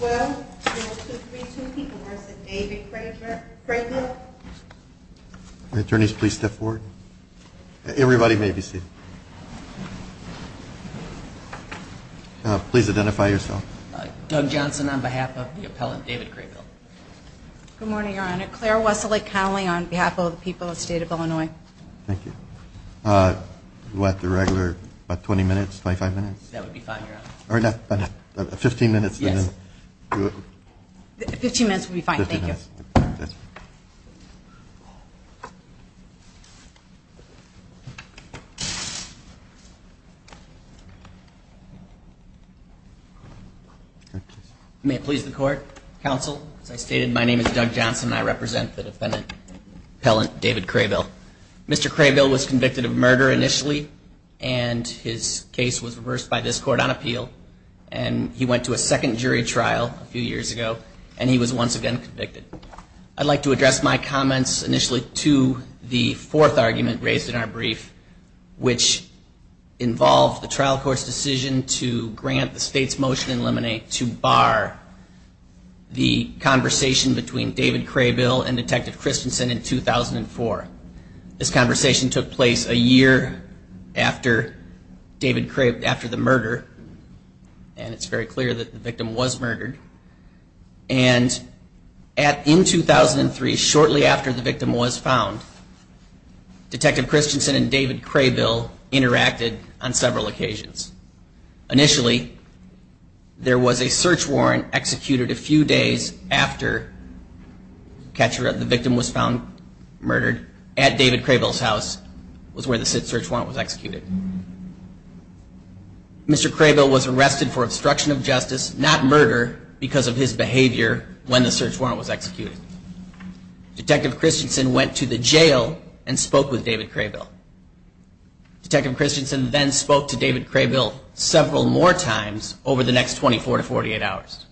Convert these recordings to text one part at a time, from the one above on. Well, there are two, three, two people here that say David Kraybill. Attorneys, please step forward. Everybody may be seated. Please identify yourself. Doug Johnson on behalf of the appellant, David Kraybill. Good morning, Your Honor. Claire Wesley-Connelly on behalf of the people of the State of Illinois. Thank you. You'll have to regular about 20 minutes, 25 minutes. That would be fine, Your Honor. Fifteen minutes. Fifteen minutes would be fine, thank you. May it please the Court, Counsel. As I stated, my name is Doug Johnson and I represent the defendant, appellant David Kraybill. Mr. Kraybill was convicted of murder initially, and his case was reversed by this court on appeal. And he went to a second jury trial a few years ago, and he was once again convicted. I'd like to address my comments initially to the fourth argument raised in our brief, which involved the trial court's decision to grant the State's motion in limine to bar the conversation between David Kraybill and Detective Christensen in 2004. This conversation took place a year after the murder, and it's very clear that the victim was murdered. And in 2003, shortly after the victim was found, Detective Christensen and David Kraybill interacted on several occasions. Initially, there was a search warrant executed a few days after the victim was found murdered at David Kraybill's house, was where the search warrant was executed. Mr. Kraybill was arrested for obstruction of justice, not murder, because of his behavior when the search warrant was executed. Detective Christensen went to the jail and spoke with David Kraybill. Detective Christensen then spoke to David Kraybill several more times over the next 24 to 48 hours.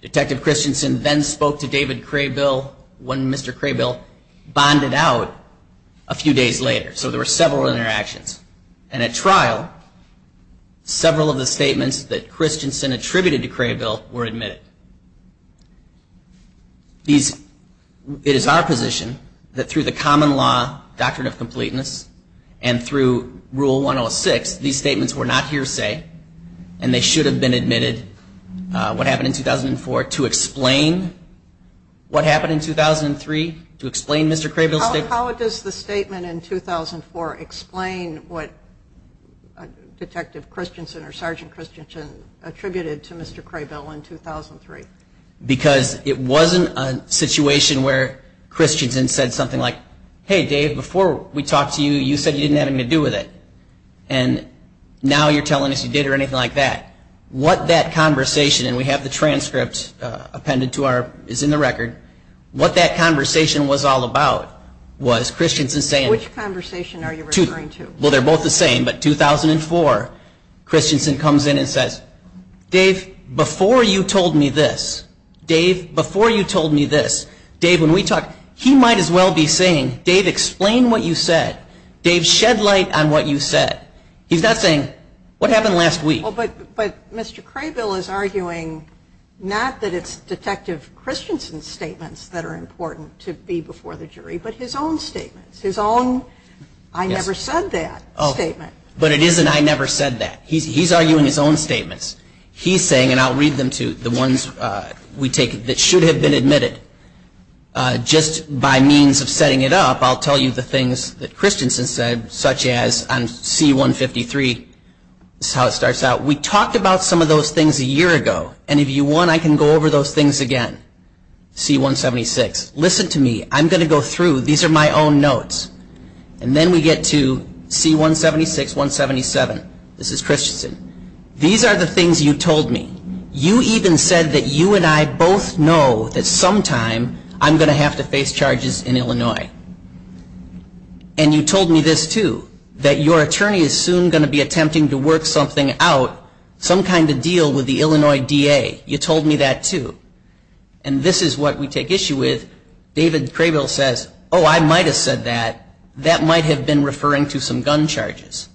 Detective Christensen then spoke to David Kraybill when Mr. Kraybill bonded out a few days later. So there were several interactions. And at trial, several of the statements that Christensen attributed to Kraybill were admitted. It is our position that through the common law doctrine of completeness and through Rule 106, these statements were not hearsay, and they should have been admitted. What happened in 2004 to explain what happened in 2003, to explain Mr. Kraybill's statement. How does the statement in 2004 explain what Detective Christensen or Sergeant Christensen attributed to Mr. Kraybill in 2004? Because it wasn't a situation where Christensen said something like, hey, Dave, before we talked to you, you said you didn't have anything to do with it. And now you're telling us you did or anything like that. What that conversation, and we have the transcript appended to our, is in the record. What that conversation was all about was Christensen saying. Which conversation are you referring to? Well, they're both the same. But 2004, Christensen comes in and says, Dave, before you told me this, Dave, before you told me this, Dave, when we talked, he might as well be saying, Dave, explain what you said. Dave, shed light on what you said. He's not saying, what happened last week? But Mr. Kraybill is arguing not that it's Detective Christensen's statements that are important to be before the jury, but his own statements, his own I never said that statement. But it isn't I never said that. He's arguing his own statements. He's saying, and I'll read them to the ones we take that should have been admitted. Just by means of setting it up, I'll tell you the things that Christensen said, such as on C-153, this is how it starts out. We talked about some of those things a year ago. And if you want, I can go over those things again. C-176, listen to me. I'm going to go through. These are my own notes. And then we get to C-176, 177. This is Christensen. These are the things you told me. You even said that you and I both know that sometime I'm going to have to face charges in Illinois. And you told me this too, that your attorney is soon going to be attempting to work something out, some kind of deal with the Illinois DA. You told me that too. And this is what we take issue with. David Crabill says, oh, I might have said that. That might have been referring to some gun charges.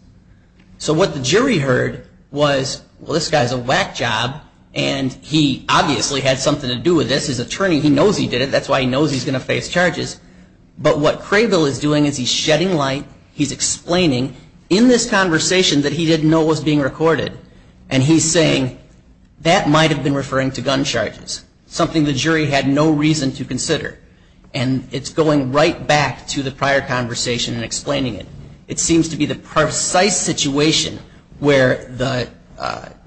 So what the jury heard was, well, this guy's a whack job. And he obviously had something to do with this. His attorney, he knows he did it. That's why he knows he's going to face charges. But what Crabill is doing is he's shedding light. He's explaining in this conversation that he didn't know was being recorded. And he's saying that might have been referring to gun charges, something the jury had no reason to consider. And it's going right back to the prior conversation and explaining it. It seems to be the precise situation where the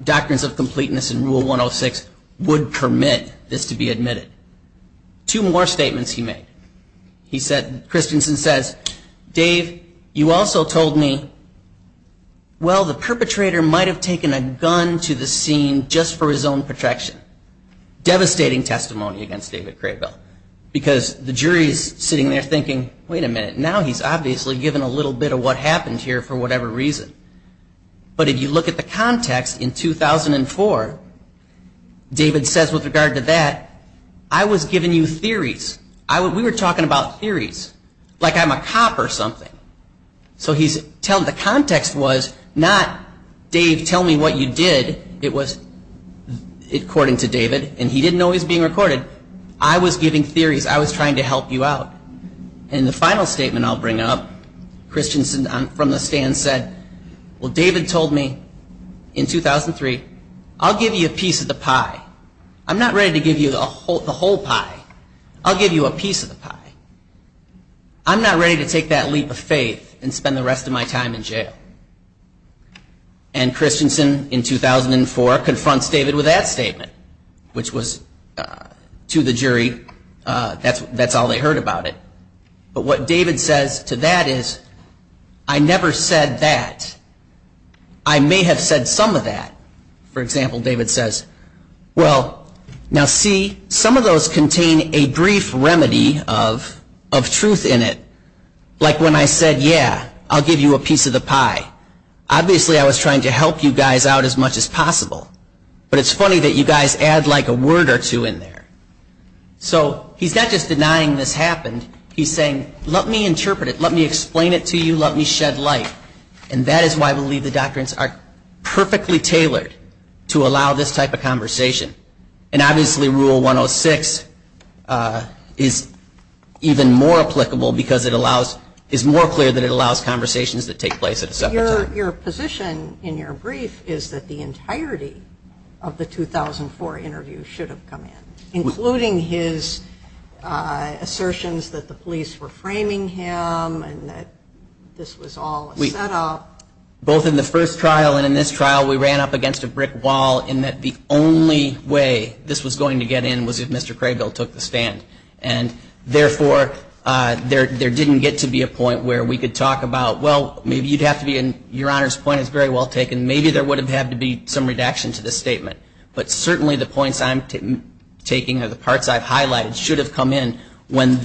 doctrines of completeness in Rule 106 would permit this to be admitted. Two more statements he made. He said, Christensen says, Dave, you also told me, well, the perpetrator might have taken a gun to the scene just for his own protection. Devastating testimony against David Crabill. Because the jury is sitting there thinking, wait a minute, now he's obviously given a little bit of what happened here for whatever reason. But if you look at the context in 2004, David says with regard to that, I was giving you theories. We were talking about theories, like I'm a cop or something. So the context was not Dave, tell me what you did. It was according to David. And he didn't know he was being recorded. I was giving theories. I was trying to help you out. And the final statement I'll bring up, Christensen from the stand said, well, David told me in 2003, I'll give you a piece of the pie. I'm not ready to give you the whole pie. I'll give you a piece of the pie. I'm not ready to take that leap of faith and spend the rest of my time in jail. And Christensen in 2004 confronts David with that statement, which was to the jury, that's all they heard about it. But what David says to that is, I never said that. I may have said some of that. For example, David says, well, now see, some of those contain a brief remedy of truth in it. Like when I said, yeah, I'll give you a piece of the pie. Obviously, I was trying to help you guys out as much as possible. But it's funny that you guys add like a word or two in there. So he's not just denying this happened. He's saying, let me interpret it. Let me explain it to you. Let me shed light. And that is why I believe the doctrines are perfectly tailored to allow this type of conversation. And obviously, Rule 106 is even more applicable because it allows, is more clear that it allows conversations that take place at a separate time. Your position in your brief is that the entirety of the 2004 interview should have come in, including his assertions that the police were framing him and that this was all a setup. Both in the first trial and in this trial, we ran up against a brick wall in that the only way this was going to get in was if Mr. Craybill took the stand. And therefore, there didn't get to be a point where we could talk about, well, maybe you'd have to be, and Your Honor's point is very well taken, but certainly the points I'm taking or the parts I've highlighted should have come in when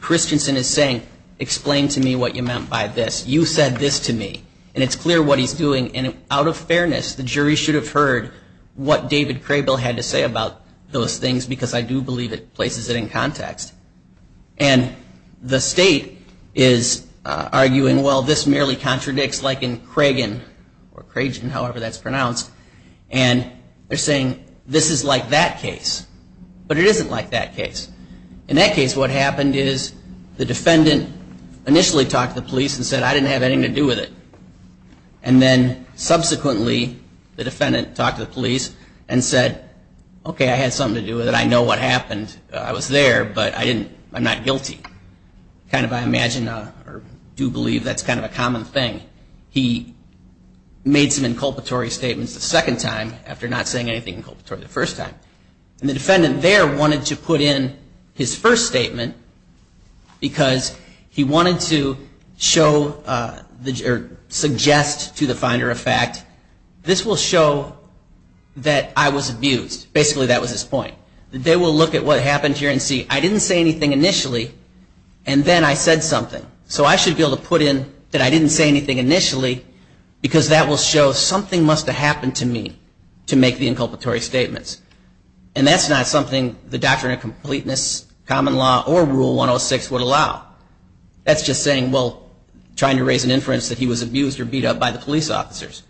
Christensen is saying, explain to me what you meant by this. You said this to me. And it's clear what he's doing. And out of fairness, the jury should have heard what David Craybill had to say about those things because I do believe it places it in context. And the state is arguing, well, this merely contradicts like in Cragin, or Cragin, however that's pronounced. And they're saying this is like that case, but it isn't like that case. In that case, what happened is the defendant initially talked to the police and said, I didn't have anything to do with it. And then subsequently, the defendant talked to the police and said, okay, I had something to do with it. I know what happened. I was there, but I'm not guilty. Kind of I imagine or do believe that's kind of a common thing. He made some inculpatory statements the second time after not saying anything inculpatory the first time. And the defendant there wanted to put in his first statement because he wanted to show or suggest to the finder of fact, this will show that I was abused. Basically, that was his point. They will look at what happened here and see, I didn't say anything initially, and then I said something. So I should be able to put in that I didn't say anything initially, because that will show something must have happened to me to make the inculpatory statements. And that's not something the Doctrine of Completeness, Common Law, or Rule 106 would allow. That's just saying, well, trying to raise an inference that he was abused or beat up by the police officers.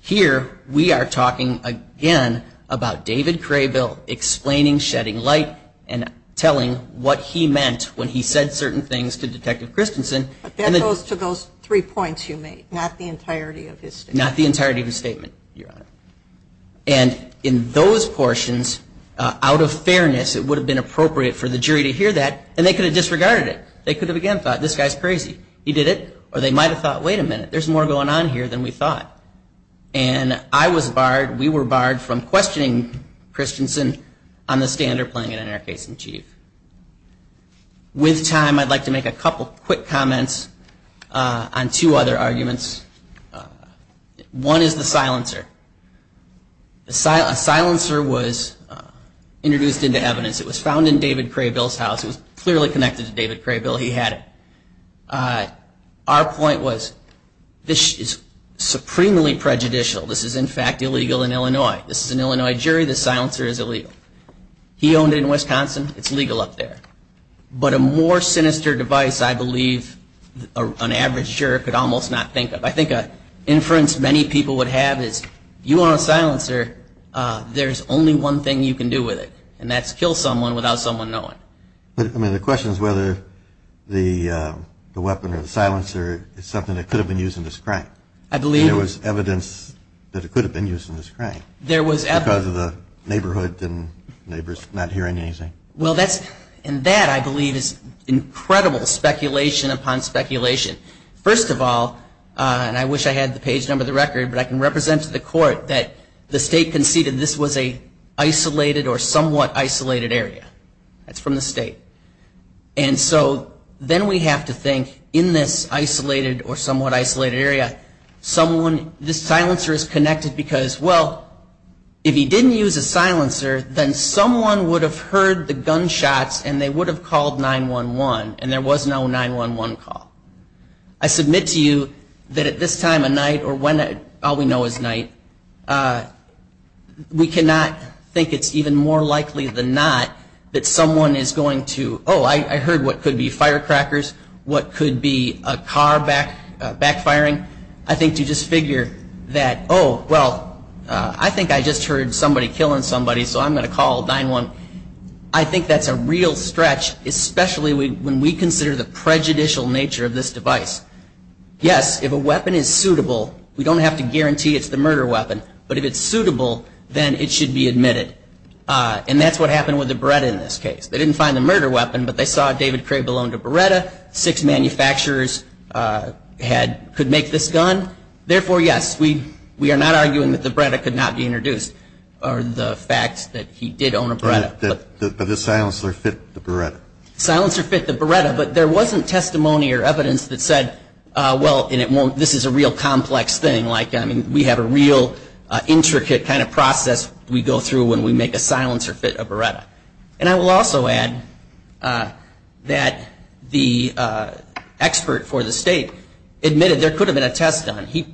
Here, we are talking again about David Craybill explaining Shedding Light and telling what he meant when he said certain things to Detective Christensen. But that goes to those three points you made, not the entirety of his statement. Not the entirety of his statement, Your Honor. And in those portions, out of fairness, it would have been appropriate for the jury to hear that, and they could have disregarded it. They could have again thought, this guy's crazy. He did it. Or they might have thought, wait a minute, there's more going on here than we thought. And I was barred, we were barred from questioning Christensen on the standard playing it in our case in chief. With time, I'd like to make a couple quick comments on two other arguments. One is the silencer. A silencer was introduced into evidence. It was found in David Craybill's house. It was clearly connected to David Craybill. He had it. Our point was, this is supremely prejudicial. This is, in fact, illegal in Illinois. This is an Illinois jury. The silencer is illegal. He owned it in Wisconsin. It's legal up there. But a more sinister device, I believe, an average juror could almost not think of. I think an inference many people would have is, if you own a silencer, there's only one thing you can do with it, and that's kill someone without someone knowing. The question is whether the weapon or the silencer is something that could have been used in this crime. There was evidence that it could have been used in this crime because of the neighborhood and neighbors not hearing anything. Well, that, I believe, is incredible speculation upon speculation. First of all, and I wish I had the page number of the record, but I can represent to the court that the state conceded this was an isolated or somewhat isolated area. That's from the state. And so then we have to think, in this isolated or somewhat isolated area, this silencer is connected because, well, if he didn't use a silencer, then someone would have heard the gunshots and they would have called 911, and there was no 911 call. I submit to you that at this time of night, or when all we know is night, we cannot think it's even more likely than not that someone is going to, oh, I heard what could be firecrackers, what could be a car backfiring. I think to just figure that, oh, well, I think I just heard somebody killing somebody, so I'm going to call 911, I think that's a real stretch, especially when we consider the prejudicial nature of this device. Yes, if a weapon is suitable, we don't have to guarantee it's the murder weapon, but if it's suitable, then it should be admitted. And that's what happened with the Beretta in this case. They didn't find the murder weapon, but they saw David Cray belonged to Beretta, six manufacturers could make this gun. Therefore, yes, we are not arguing that the Beretta could not be introduced, or the fact that he did own a Beretta. But the silencer fit the Beretta. The silencer fit the Beretta, but there wasn't testimony or evidence that said, well, and it won't, this is a real complex thing, like, I mean, we have a real intricate kind of process we go through when we make a silencer fit a Beretta. And I will also add that the expert for the state admitted there could have been a test done. It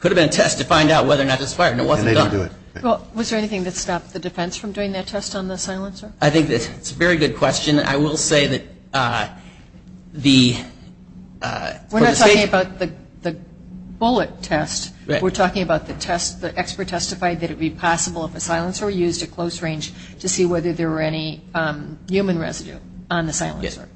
could have been a test to find out whether or not this fire, and it wasn't done. Well, was there anything that stopped the defense from doing that test on the silencer? I think that's a very good question. I will say that the state. We're not talking about the bullet test. We're talking about the test. The expert testified that it would be possible if a silencer were used at close range to see whether there were any human residue on the silencer.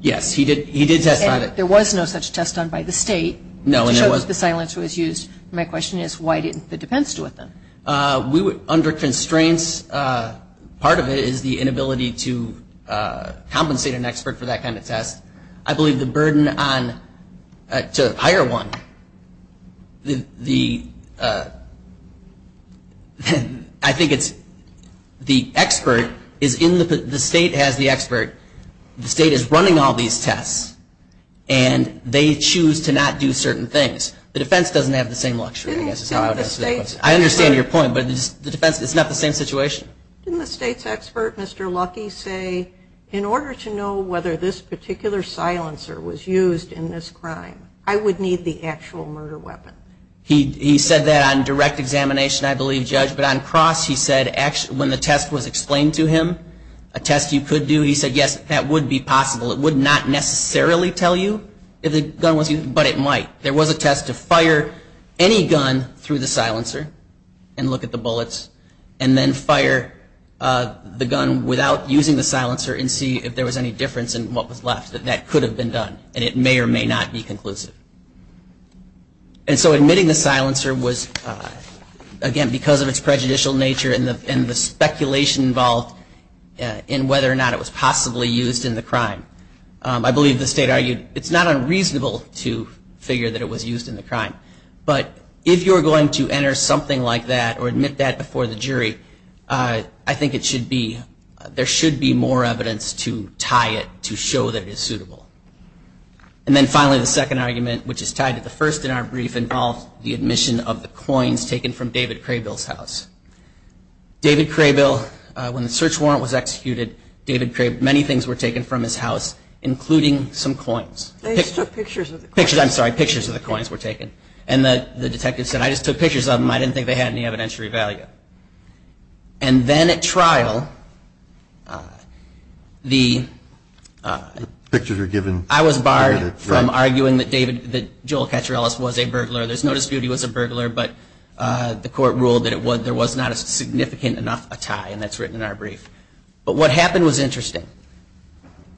Yes, he did test on it. And there was no such test done by the state to show that the silencer was used. My question is, why didn't the defense do it then? Under constraints, part of it is the inability to compensate an expert for that kind of test. I believe the burden to hire one, I think it's the expert, the state has the expert. The state is running all these tests, and they choose to not do certain things. The defense doesn't have the same luxury. I understand your point, but it's not the same situation. Didn't the state's expert, Mr. Lucky, say, in order to know whether this particular silencer was used in this crime, I would need the actual murder weapon? He said that on direct examination, I believe, Judge. But on cross, he said when the test was explained to him, a test you could do, he said, yes, that would be possible. It would not necessarily tell you if the gun was used, but it might. There was a test to fire any gun through the silencer and look at the bullets, and then fire the gun without using the silencer and see if there was any difference in what was left. That could have been done, and it may or may not be conclusive. And so admitting the silencer was, again, because of its prejudicial nature and the speculation involved in whether or not it was possibly used in the crime. I believe the state argued it's not unreasonable to figure that it was used in the crime. But if you're going to enter something like that or admit that before the jury, I think there should be more evidence to tie it to show that it is suitable. And then finally, the second argument, which is tied to the first in our brief, involves the admission of the coins taken from David Craybill's house. David Craybill, when the search warrant was executed, David Craybill, many things were taken from his house, including some coins. They just took pictures of the coins. Pictures, I'm sorry, pictures of the coins were taken. And the detective said, I just took pictures of them. I didn't think they had any evidentiary value. And then at trial, I was barred from arguing that Joel Catarellas was a burglar. There's no dispute he was a burglar, but the court ruled that there was not a significant enough tie, and that's written in our brief. But what happened was interesting.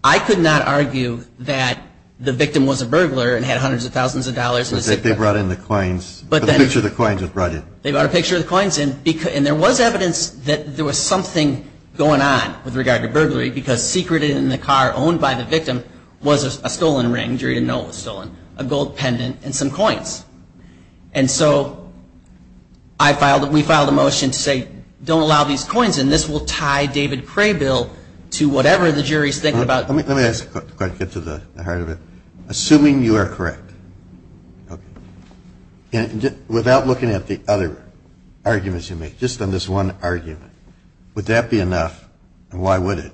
I could not argue that the victim was a burglar and had hundreds of thousands of dollars. They brought in the coins. The picture of the coins was brought in. They brought a picture of the coins in, and there was evidence that there was something going on with regard to burglary, because secreted in the car owned by the victim was a stolen ring. The jury didn't know it was stolen. A gold pendant and some coins. And so we filed a motion to say, don't allow these coins in. And this will tie David Craybill to whatever the jury is thinking about. Let me ask a question to get to the heart of it. Assuming you are correct, without looking at the other arguments you make, just on this one argument, would that be enough, and why would it,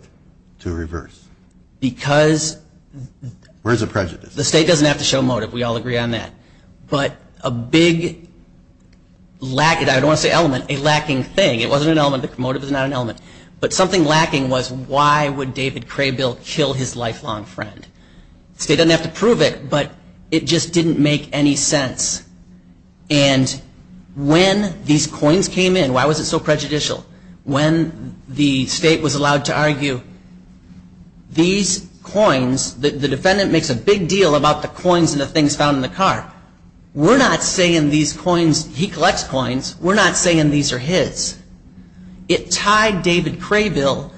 to reverse? Because. Where's the prejudice? The state doesn't have to show motive. We all agree on that. But a big lack, I don't want to say element, a lacking thing. It wasn't an element. The motive is not an element. But something lacking was, why would David Craybill kill his lifelong friend? The state doesn't have to prove it, but it just didn't make any sense. And when these coins came in, why was it so prejudicial? When the state was allowed to argue, these coins, the defendant makes a big deal about the coins and the things found in the car. We're not saying these coins, he collects coins. We're not saying these are his. It tied David Craybill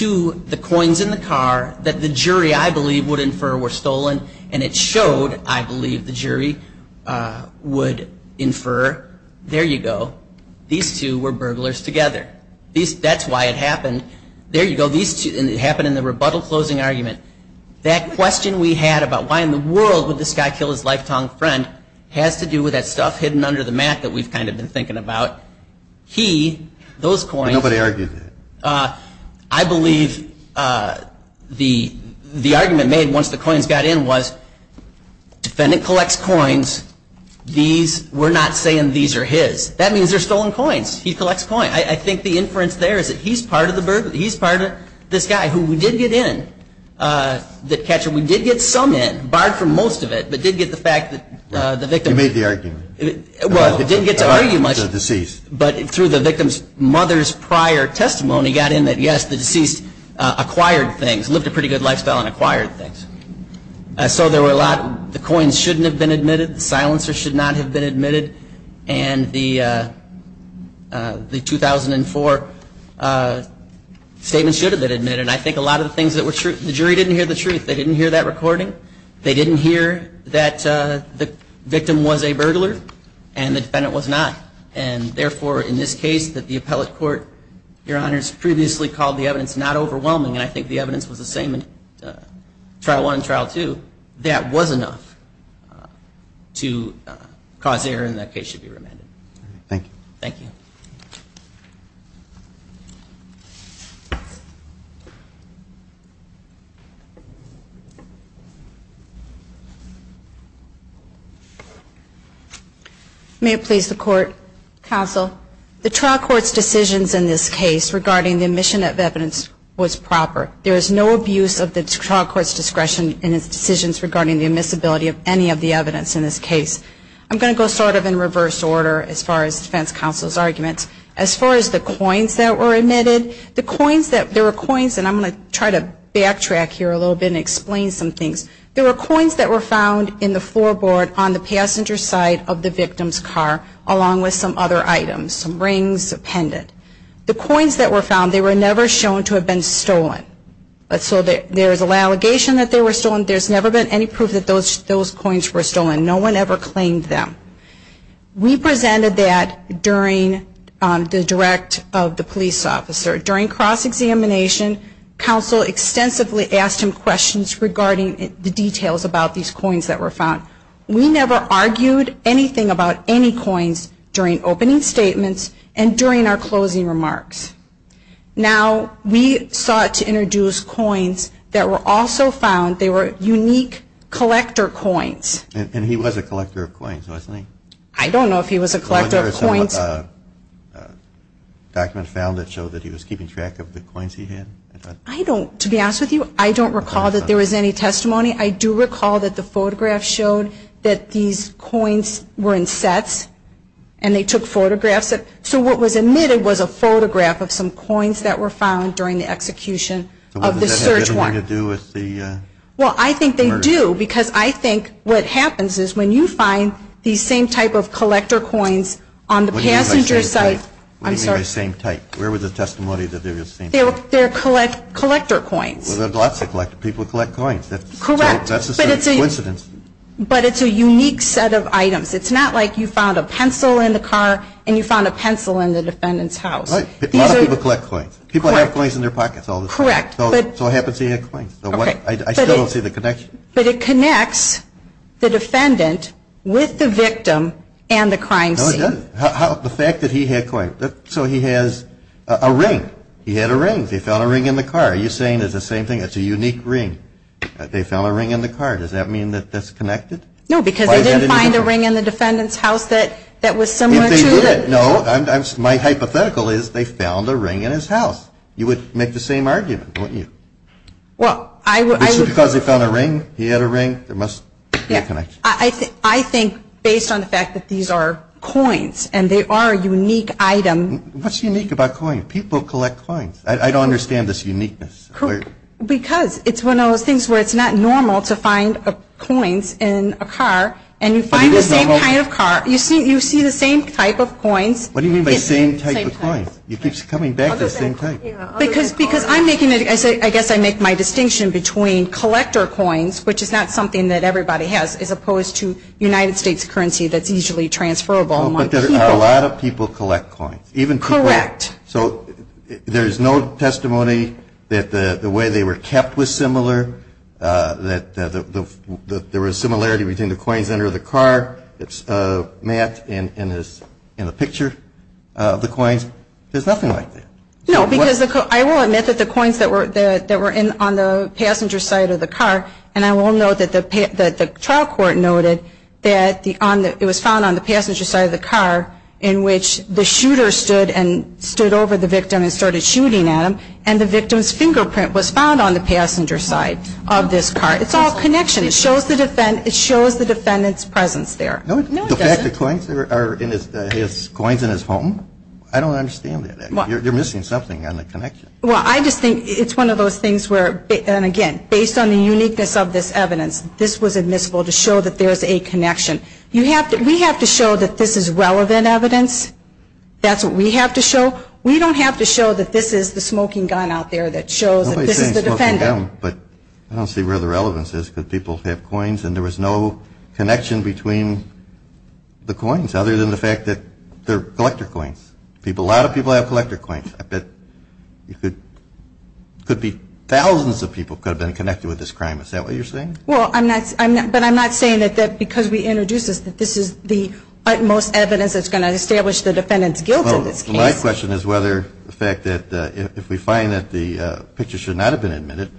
to the coins in the car that the jury, I believe, would infer were stolen, and it showed, I believe, the jury would infer, there you go, these two were burglars together. That's why it happened. There you go, these two, and it happened in the rebuttal closing argument. That question we had about why in the world would this guy kill his lifetime friend has to do with that stuff hidden under the mat that we've kind of been thinking about. He, those coins, I believe the argument made once the coins got in was, defendant collects coins, these, we're not saying these are his. That means they're stolen coins. He collects coins. I think the inference there is that he's part of the burglary, he's part of this guy who did get in, the catcher, we did get some in, barred from most of it, but did get the fact that the victim. You made the argument. Well, I didn't get to argue much. The deceased. But through the victim's mother's prior testimony got in that, yes, the deceased acquired things, lived a pretty good lifestyle and acquired things. So there were a lot, the coins shouldn't have been admitted, the silencer should not have been admitted, and the 2004 statement should have been admitted. And I think a lot of the things that were true, the jury didn't hear the truth. They didn't hear that recording. They didn't hear that the victim was a burglar and the defendant was not. And therefore, in this case that the appellate court, Your Honors, previously called the evidence not overwhelming, and I think the evidence was the same in trial one and trial two, that was enough to cause error and that case should be remanded. Thank you. Thank you. May it please the Court, Counsel. The trial court's decisions in this case regarding the admission of evidence was proper. There was no abuse of the trial court's discretion in its decisions regarding the admissibility of any of the evidence in this case. I'm going to go sort of in reverse order as far as defense counsel's arguments. As far as the coins that were admitted, the coins that, there were coins, and I'm going to try to backtrack here a little bit and explain some things. There were coins that were found in the floorboard on the passenger side of the victim's car along with some other items, some rings, a pendant. The coins that were found, they were never shown to have been stolen. So there's an allegation that they were stolen. There's never been any proof that those coins were stolen. No one ever claimed them. We presented that during the direct of the police officer. During cross-examination, counsel extensively asked him questions regarding the details about these coins that were found. We never argued anything about any coins during opening statements and during our closing remarks. Now, we sought to introduce coins that were also found. They were unique collector coins. And he was a collector of coins, wasn't he? I don't know if he was a collector of coins. Do you have a document found that showed that he was keeping track of the coins he had? I don't. To be honest with you, I don't recall that there was any testimony. I do recall that the photograph showed that these coins were in sets and they took photographs. So what was admitted was a photograph of some coins that were found during the execution of the search warrant. So what does that have anything to do with the murder? Well, I think they do because I think what happens is when you find these same type of collector coins on the passenger side. What do you mean by same type? Where was the testimony that they were the same type? They're collector coins. Well, there are lots of people who collect coins. Correct. That's a coincidence. But it's a unique set of items. It's not like you found a pencil in the car and you found a pencil in the defendant's house. A lot of people collect coins. Correct. People have coins in their pockets all the time. Correct. So what happens if you have coins? I still don't see the connection. But it connects the defendant with the victim and the crime scene. No, it doesn't. The fact that he had coins. So he has a ring. He had a ring. They found a ring in the car. Are you saying it's the same thing? It's a unique ring. They found a ring in the car. Does that mean that that's connected? No, because they didn't find a ring in the defendant's house that was similar to it. No, my hypothetical is they found a ring in his house. You would make the same argument, wouldn't you? Well, I would. Is it because they found a ring? He had a ring? There must be a connection. I think based on the fact that these are coins and they are a unique item. What's unique about coins? People collect coins. I don't understand this uniqueness. Because it's one of those things where it's not normal to find coins in a car and you find the same kind of car. You see the same type of coins. What do you mean by same type of coins? It keeps coming back the same type. I guess I make my distinction between collector coins, which is not something that everybody has, as opposed to United States currency that's easily transferable among people. But a lot of people collect coins. Correct. So there's no testimony that the way they were kept was similar, that there was similarity between the coins under the car that's mapped in the picture of the coins. There's nothing like that. No, because I will admit that the coins that were on the passenger side of the car, and I will note that the trial court noted that it was found on the passenger side of the car in which the shooter stood over the victim and started shooting at him, and the victim's fingerprint was found on the passenger side of this car. It's all connection. It shows the defendant's presence there. No, it doesn't. The fact that coins are in his home? I don't understand that. You're missing something on the connection. Well, I just think it's one of those things where, and again, based on the uniqueness of this evidence, this was admissible to show that there's a connection. We have to show that this is relevant evidence. That's what we have to show. We don't have to show that this is the smoking gun out there that shows that this is the defendant. Nobody says smoking gun, but I don't see where the relevance is because people have coins and there was no connection between the coins other than the fact that they're collector coins. A lot of people have collector coins. I bet it could be thousands of people could have been connected with this crime. Is that what you're saying? Well, but I'm not saying that because we introduced this, that this is the utmost evidence that's going to establish the defendant's guilt in this case. Well, my question is whether the fact that if we find that the picture should not have been admitted,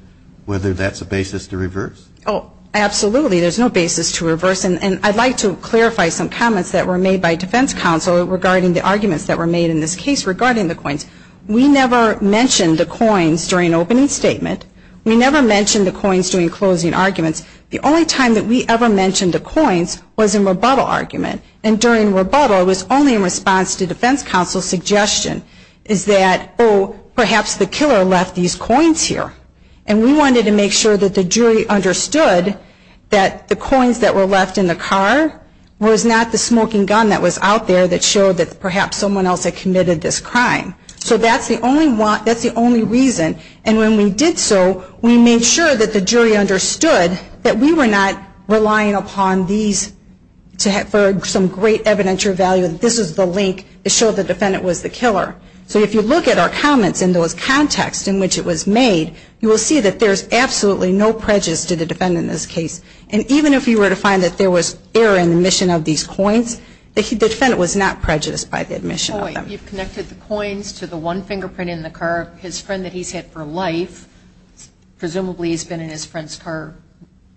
whether that's a basis to reverse. Oh, absolutely. There's no basis to reverse, and I'd like to clarify some comments that were made by defense counsel regarding the arguments that were made in this case regarding the coins. We never mentioned the coins during opening statement. We never mentioned the coins during closing arguments. The only time that we ever mentioned the coins was in rebuttal argument, and during rebuttal it was only in response to defense counsel's suggestion, is that, oh, perhaps the killer left these coins here. And we wanted to make sure that the jury understood that the coins that were left in the car was not the smoking gun that was out there that showed that perhaps someone else had committed this crime. So that's the only reason. And when we did so, we made sure that the jury understood that we were not relying upon these for some great evidential value that this is the link that showed the defendant was the killer. So if you look at our comments in those contexts in which it was made, you will see that there's absolutely no prejudice to the defendant in this case. And even if you were to find that there was error in the admission of these coins, the defendant was not prejudiced by the admission of them. You've connected the coins to the one fingerprint in the car. His friend that he's had for life presumably has been in his friend's car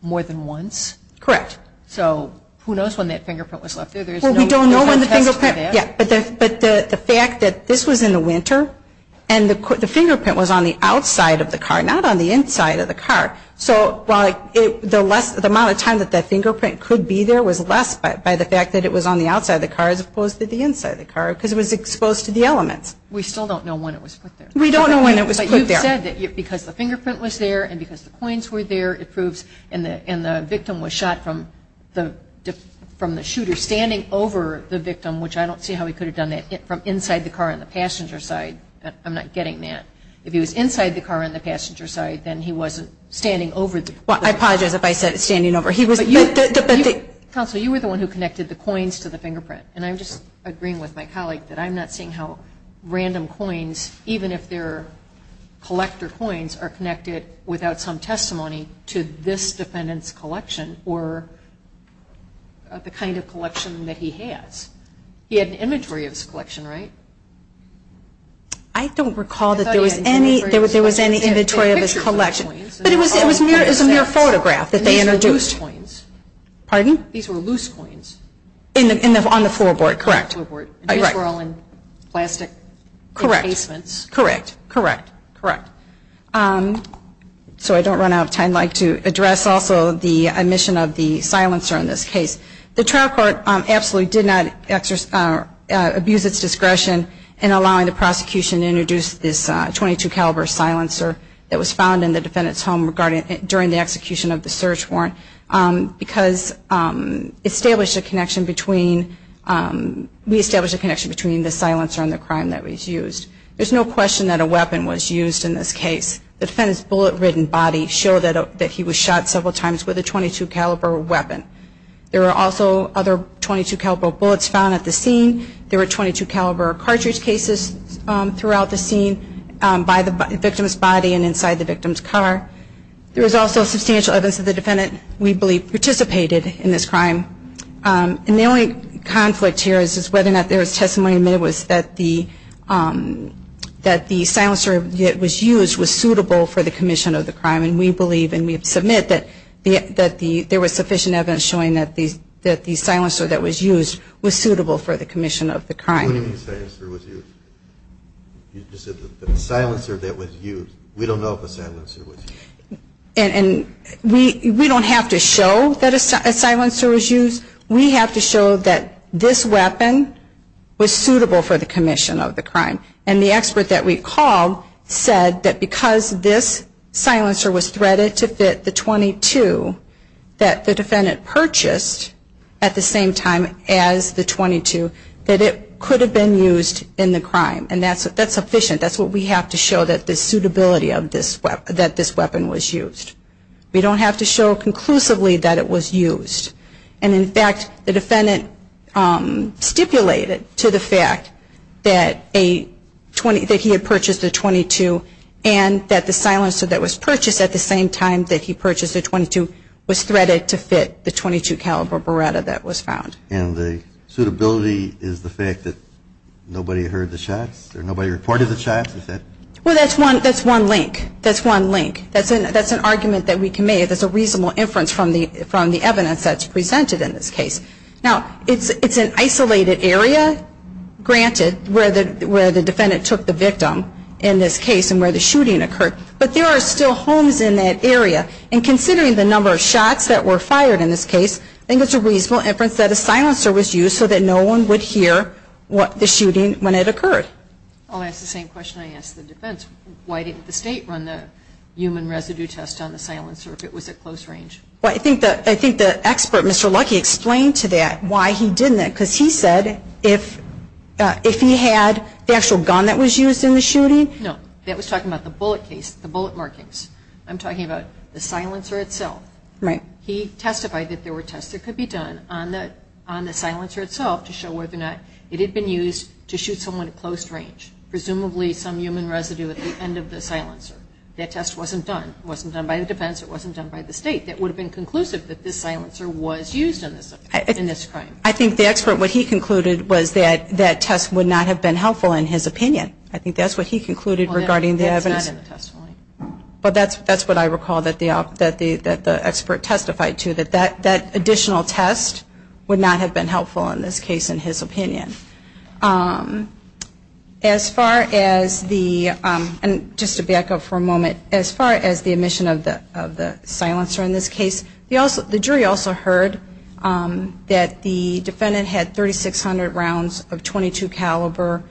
more than once. Correct. So who knows when that fingerprint was left there? Well, we don't know when the fingerprint was left there. Yeah, but the fact that this was in the winter and the fingerprint was on the outside of the car, not on the inside of the car. So the amount of time that that fingerprint could be there was less by the fact that it was on the outside of the car as opposed to the inside of the car because it was exposed to the elements. We still don't know when it was put there. We don't know when it was put there. But you've said that because the fingerprint was there and because the coins were there it proves and the victim was shot from the shooter standing over the victim, which I don't see how he could have done that from inside the car on the passenger's side. I'm not getting that. If he was inside the car on the passenger's side, then he wasn't standing over the... Well, I apologize if I said standing over. He was... Counsel, you were the one who connected the coins to the fingerprint, and I'm just agreeing with my colleague that I'm not seeing how random coins, even if they're collector coins, are connected without some testimony to this defendant's collection or the kind of collection that he has. He had an inventory of his collection, right? I don't recall that there was any... I thought he had an inventory of his collection. There was any inventory of his collection. But it was a mere photograph that they introduced. These were loose coins. Pardon? These were loose coins. On the floorboard, correct. On the floorboard. These were all in plastic encasements. Correct. Correct. Correct. Correct. So I don't run out of time. I'd like to address also the omission of the silencer in this case. The trial court absolutely did not abuse its discretion in allowing the prosecution to introduce this .22 caliber silencer that was found in the defendant's home during the execution of the search warrant because we established a connection between the silencer and the crime that was used. There's no question that a weapon was used in this case. The defendant's bullet-ridden body showed that he was shot several times with a .22 caliber weapon. There were also other .22 caliber bullets found at the scene. There were .22 caliber cartridge cases throughout the scene by the victim's body and inside the victim's car. There was also substantial evidence that the defendant, we believe, participated in this crime. And the only conflict here is whether or not there was testimony that the silencer that was used was suitable for the commission of the crime. And we believe and we submit that there was sufficient evidence showing that the silencer that was used was suitable for the commission of the crime. What do you mean the silencer was used? You just said the silencer that was used. We don't know if a silencer was used. And we don't have to show that a silencer was used. We have to show that this weapon was suitable for the commission of the crime. And the expert that we called said that because this silencer was threaded to fit the .22, that the defendant purchased at the same time as the .22, that it could have been used in the crime. And that's sufficient. That's what we have to show that the suitability of this weapon was used. We don't have to show conclusively that it was used. And, in fact, the defendant stipulated to the fact that he had purchased the .22 and that the silencer that was purchased at the same time that he purchased the .22 was threaded to fit the .22 caliber Beretta that was found. And the suitability is the fact that nobody heard the shots or nobody reported the shots. Well, that's one link. That's one link. That's an argument that we can make. That's a reasonable inference from the evidence that's presented in this case. Now, it's an isolated area, granted, where the defendant took the victim in this case and where the shooting occurred. But there are still homes in that area. And considering the number of shots that were fired in this case, I think it's a reasonable inference that a silencer was used so that no one would hear the shooting when it occurred. I'll ask the same question I asked the defense. Why didn't the state run the human residue test on the silencer if it was at close range? Well, I think the expert, Mr. Lucky, explained to that why he didn't because he said if he had the actual gun that was used in the shooting. No, that was talking about the bullet case, the bullet markings. I'm talking about the silencer itself. He testified that there were tests that could be done on the silencer itself to show whether or not it had been used to shoot someone at close range, presumably some human residue at the end of the silencer. That test wasn't done. It wasn't done by the defense. It wasn't done by the state. It would have been conclusive that this silencer was used in this crime. I think the expert, what he concluded, was that that test would not have been helpful in his opinion. I think that's what he concluded regarding the evidence. Well, that's not in the testimony. But that's what I recall that the expert testified to, that that additional test would not have been helpful in this case in his opinion. Just to back up for a moment, as far as the omission of the silencer in this case, the jury also heard that the defendant had 3,600 rounds of .22 caliber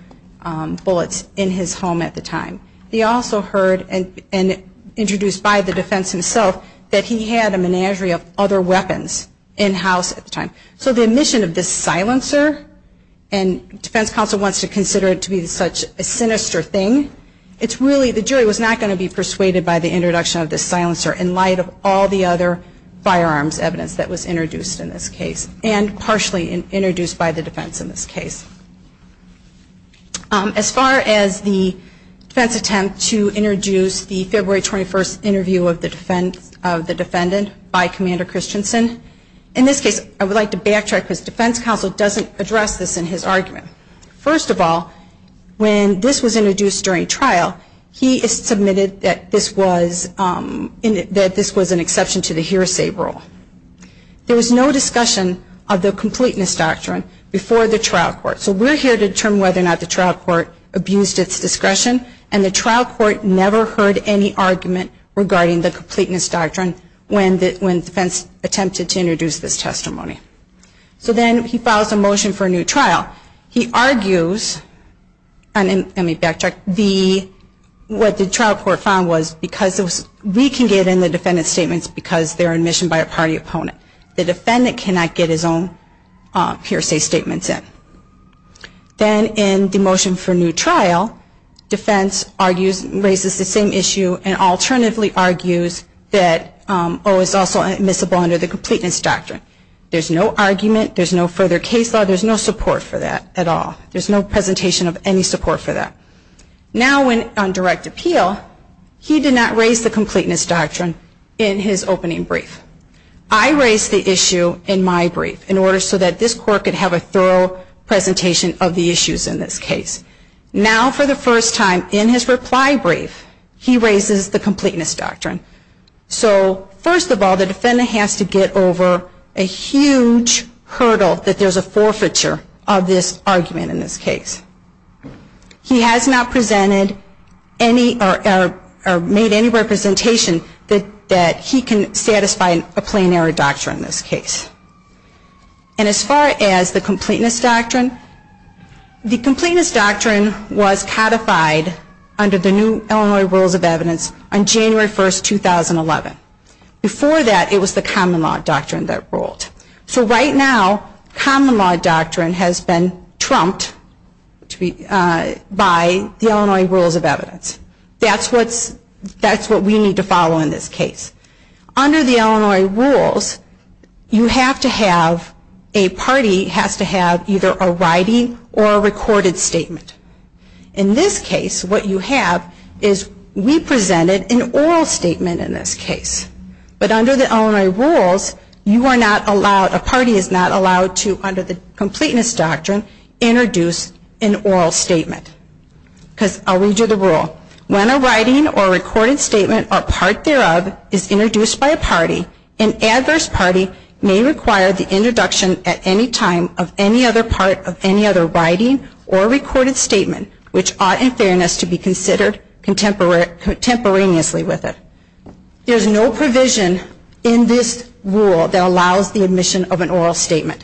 bullets in his home at the time. They also heard, and introduced by the defense himself, that he had a menagerie of other weapons in house at the time. So the omission of this silencer, and defense counsel wants to consider it to be such a sinister thing, it's really, the jury was not going to be persuaded by the introduction of this silencer in light of all the other firearms evidence that was introduced in this case, and partially introduced by the defense in this case. As far as the defense attempt to introduce the February 21st interview of the defendant by Commander Christensen, in this case I would like to backtrack because defense counsel doesn't address this in his argument. First of all, when this was introduced during trial, he is submitted that this was an exception to the hearsay rule. There was no discussion of the completeness doctrine before the trial court. So we're here to determine whether or not the trial court abused its discretion, and the trial court never heard any argument regarding the completeness doctrine when defense attempted to introduce this testimony. So then he files a motion for a new trial. He argues, and let me backtrack, what the trial court found was we can get in the defendant's statements because they're admission by a party opponent. The defendant cannot get his own hearsay statements in. Then in the motion for a new trial, defense argues, raises the same issue and alternatively argues that O is also admissible under the completeness doctrine. There's no argument, there's no further case law, there's no support for that at all. There's no presentation of any support for that. Now on direct appeal, he did not raise the completeness doctrine in his opening brief. I raised the issue in my brief in order so that this court could have a thorough presentation of the issues in this case. Now for the first time in his reply brief, he raises the completeness doctrine. So first of all, the defendant has to get over a huge hurdle that there's a forfeiture of this argument in this case. He has not presented or made any representation that he can satisfy a plain error doctrine in this case. And as far as the completeness doctrine, the completeness doctrine was codified under the new Illinois Rules of Evidence on January 1, 2011. Before that, it was the common law doctrine that ruled. So right now, common law doctrine has been trumped by the Illinois Rules of Evidence. That's what we need to follow in this case. Under the Illinois Rules, a party has to have either a writing or a recorded statement. In this case, what you have is we presented an oral statement in this case. But under the Illinois Rules, you are not allowed, a party is not allowed to, under the completeness doctrine, introduce an oral statement. Because I'll read you the rule. When a writing or recorded statement or part thereof is introduced by a party, an adverse party may require the introduction at any time of any other part of any other writing or recorded statement which ought in fairness to be considered contemporaneously with it. There's no provision in this rule that allows the admission of an oral statement.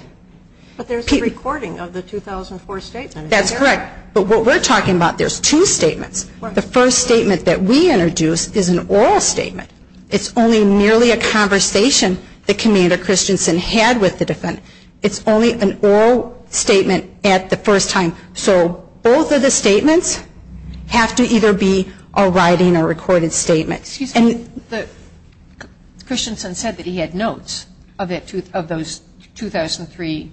But there's a recording of the 2004 statement. That's correct. But what we're talking about, there's two statements. The first statement that we introduced is an oral statement. It's only merely a conversation that Commander Christensen had with the defendant. It's only an oral statement at the first time. So both of the statements have to either be a writing or recorded statement. Excuse me. Christensen said that he had notes of those 2003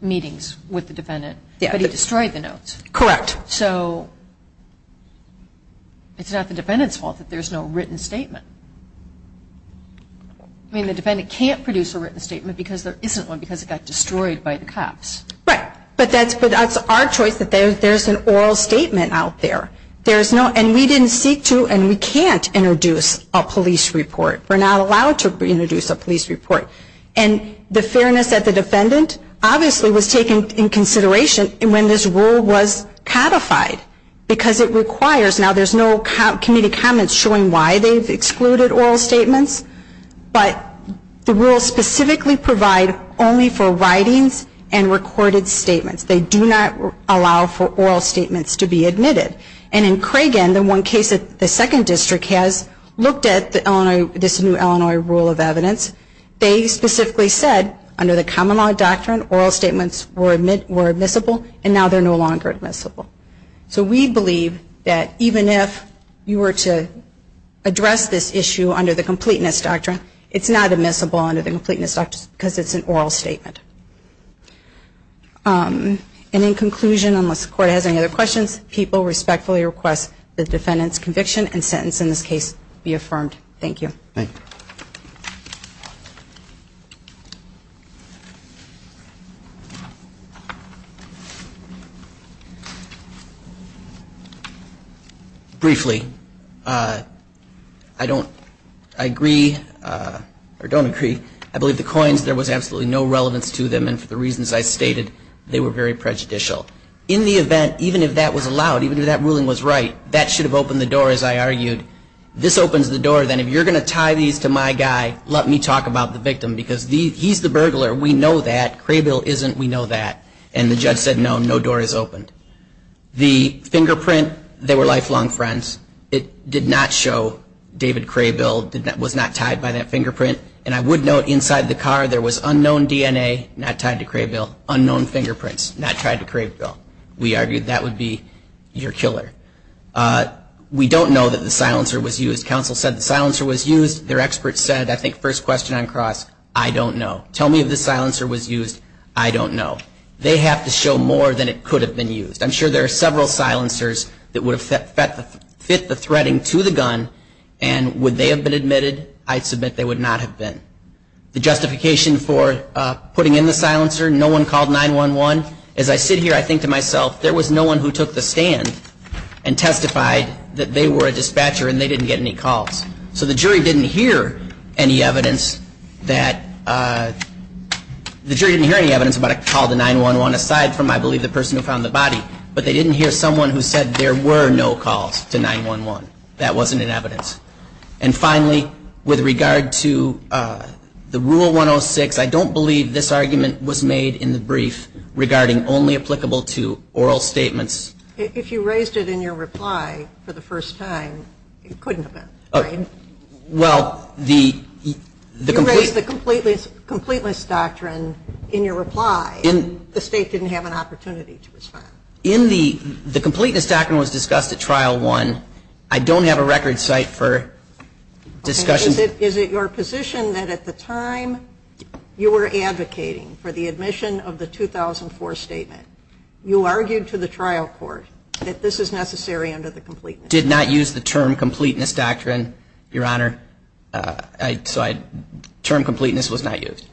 meetings with the defendant. Yes. But he destroyed the notes. Correct. So it's not the defendant's fault that there's no written statement. I mean, the defendant can't produce a written statement because there isn't one because it got destroyed by the cops. Right. But that's our choice that there's an oral statement out there. And we didn't seek to and we can't introduce a police report. We're not allowed to introduce a police report. And the fairness of the defendant obviously was taken into consideration when this rule was codified because it requires, now there's no committee comments showing why they've excluded oral statements, but the rules specifically provide only for writings and recorded statements. They do not allow for oral statements to be admitted. And in Cragen, the one case that the second district has, looked at this new Illinois rule of evidence, they specifically said under the common law doctrine, oral statements were admissible and now they're no longer admissible. So we believe that even if you were to address this issue under the completeness doctrine, it's not admissible under the completeness doctrine because it's an oral statement. And in conclusion, unless the court has any other questions, people respectfully request the defendant's conviction and sentence in this case be affirmed. Thank you. Thank you. Briefly, I don't, I agree, or don't agree. I believe the coins, there was absolutely no relevance to them and for the reasons I stated, they were very prejudicial. In the event, even if that was allowed, even if that ruling was right, that should have opened the door as I argued. This opens the door, then if you're going to tie these to my guy, let me talk about the victim because he's the burglar, we know that. Crabil isn't, we know that. And the judge said no, no door is opened. The fingerprint, they were lifelong friends. It did not show David Crabil was not tied by that fingerprint. And I would note inside the car there was unknown DNA not tied to Crabil, unknown fingerprints not tied to Crabil. We argued that would be your killer. We don't know that the silencer was used. Counsel said the silencer was used. Their expert said, I think first question on cross, I don't know. Tell me if the silencer was used, I don't know. They have to show more than it could have been used. I'm sure there are several silencers that would have fit the threading to the gun and would they have been admitted? I submit they would not have been. The justification for putting in the silencer, no one called 911. As I sit here, I think to myself, there was no one who took the stand and testified that they were a dispatcher and they didn't get any calls. So the jury didn't hear any evidence that the jury didn't hear any evidence about a call to 911, aside from I believe the person who found the body. But they didn't hear someone who said there were no calls to 911. That wasn't in evidence. And finally, with regard to the Rule 106, I don't believe this argument was made in the brief regarding only applicable to oral statements. If you raised it in your reply for the first time, it couldn't have been, right? Well, the complete You raised the completeness doctrine in your reply. The State didn't have an opportunity to respond. The completeness doctrine was discussed at Trial 1. I don't have a record site for discussion. Is it your position that at the time you were advocating for the admission of the 2004 statement, you argued to the trial court that this is necessary under the completeness doctrine? I did not use the term completeness doctrine, Your Honor. So term completeness was not used.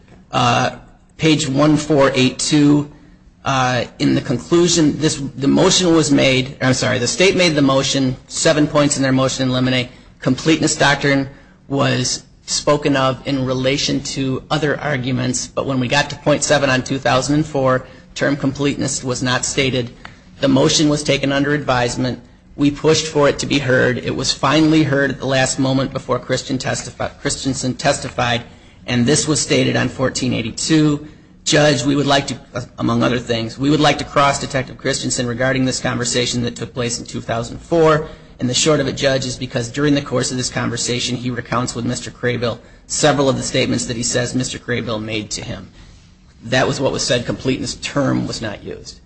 Page 1482, in the conclusion, the motion was made I'm sorry, the State made the motion. Seven points in their motion eliminate. Completeness doctrine was spoken of in relation to other arguments. But when we got to point seven on 2004, term completeness was not stated. The motion was taken under advisement. We pushed for it to be heard. It was finally heard at the last moment before Christensen testified. And this was stated on 1482. Judge, we would like to, among other things, we would like to cross Detective Christensen regarding this conversation that took place in 2004. And the short of it, Judge, is because during the course of this conversation, he recounts with Mr. Craybill several of the statements that he says Mr. Craybill made to him. That was what was said. Completeness term was not used.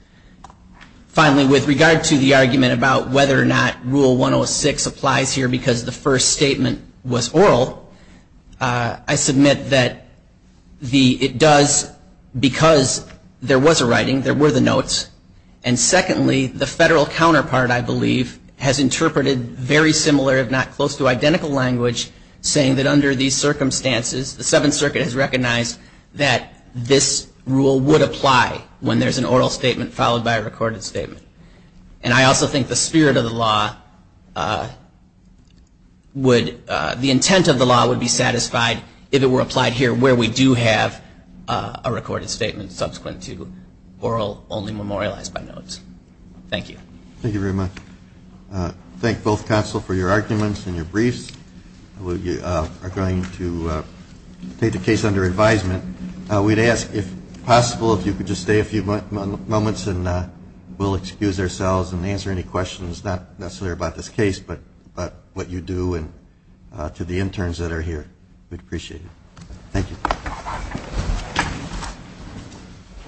Finally, with regard to the argument about whether or not Rule 106 applies here because the first statement was oral, I submit that it does because there was a writing, there were the notes. And secondly, the federal counterpart, I believe, has interpreted very similar, if not close to identical language, saying that under these circumstances, the Seventh Circuit has recognized that this rule would apply when there's an oral statement followed by a recorded statement. And I also think the spirit of the law would, the intent of the law would be satisfied if it were applied here, where we do have a recorded statement subsequent to oral, only memorialized by notes. Thank you. Thank you very much. Thank both counsel for your arguments and your briefs. We are going to take the case under advisement. We'd ask, if possible, if you could just stay a few moments and we'll excuse ourselves and answer any questions, not necessarily about this case, but what you do and to the interns that are here. We'd appreciate it. Thank you.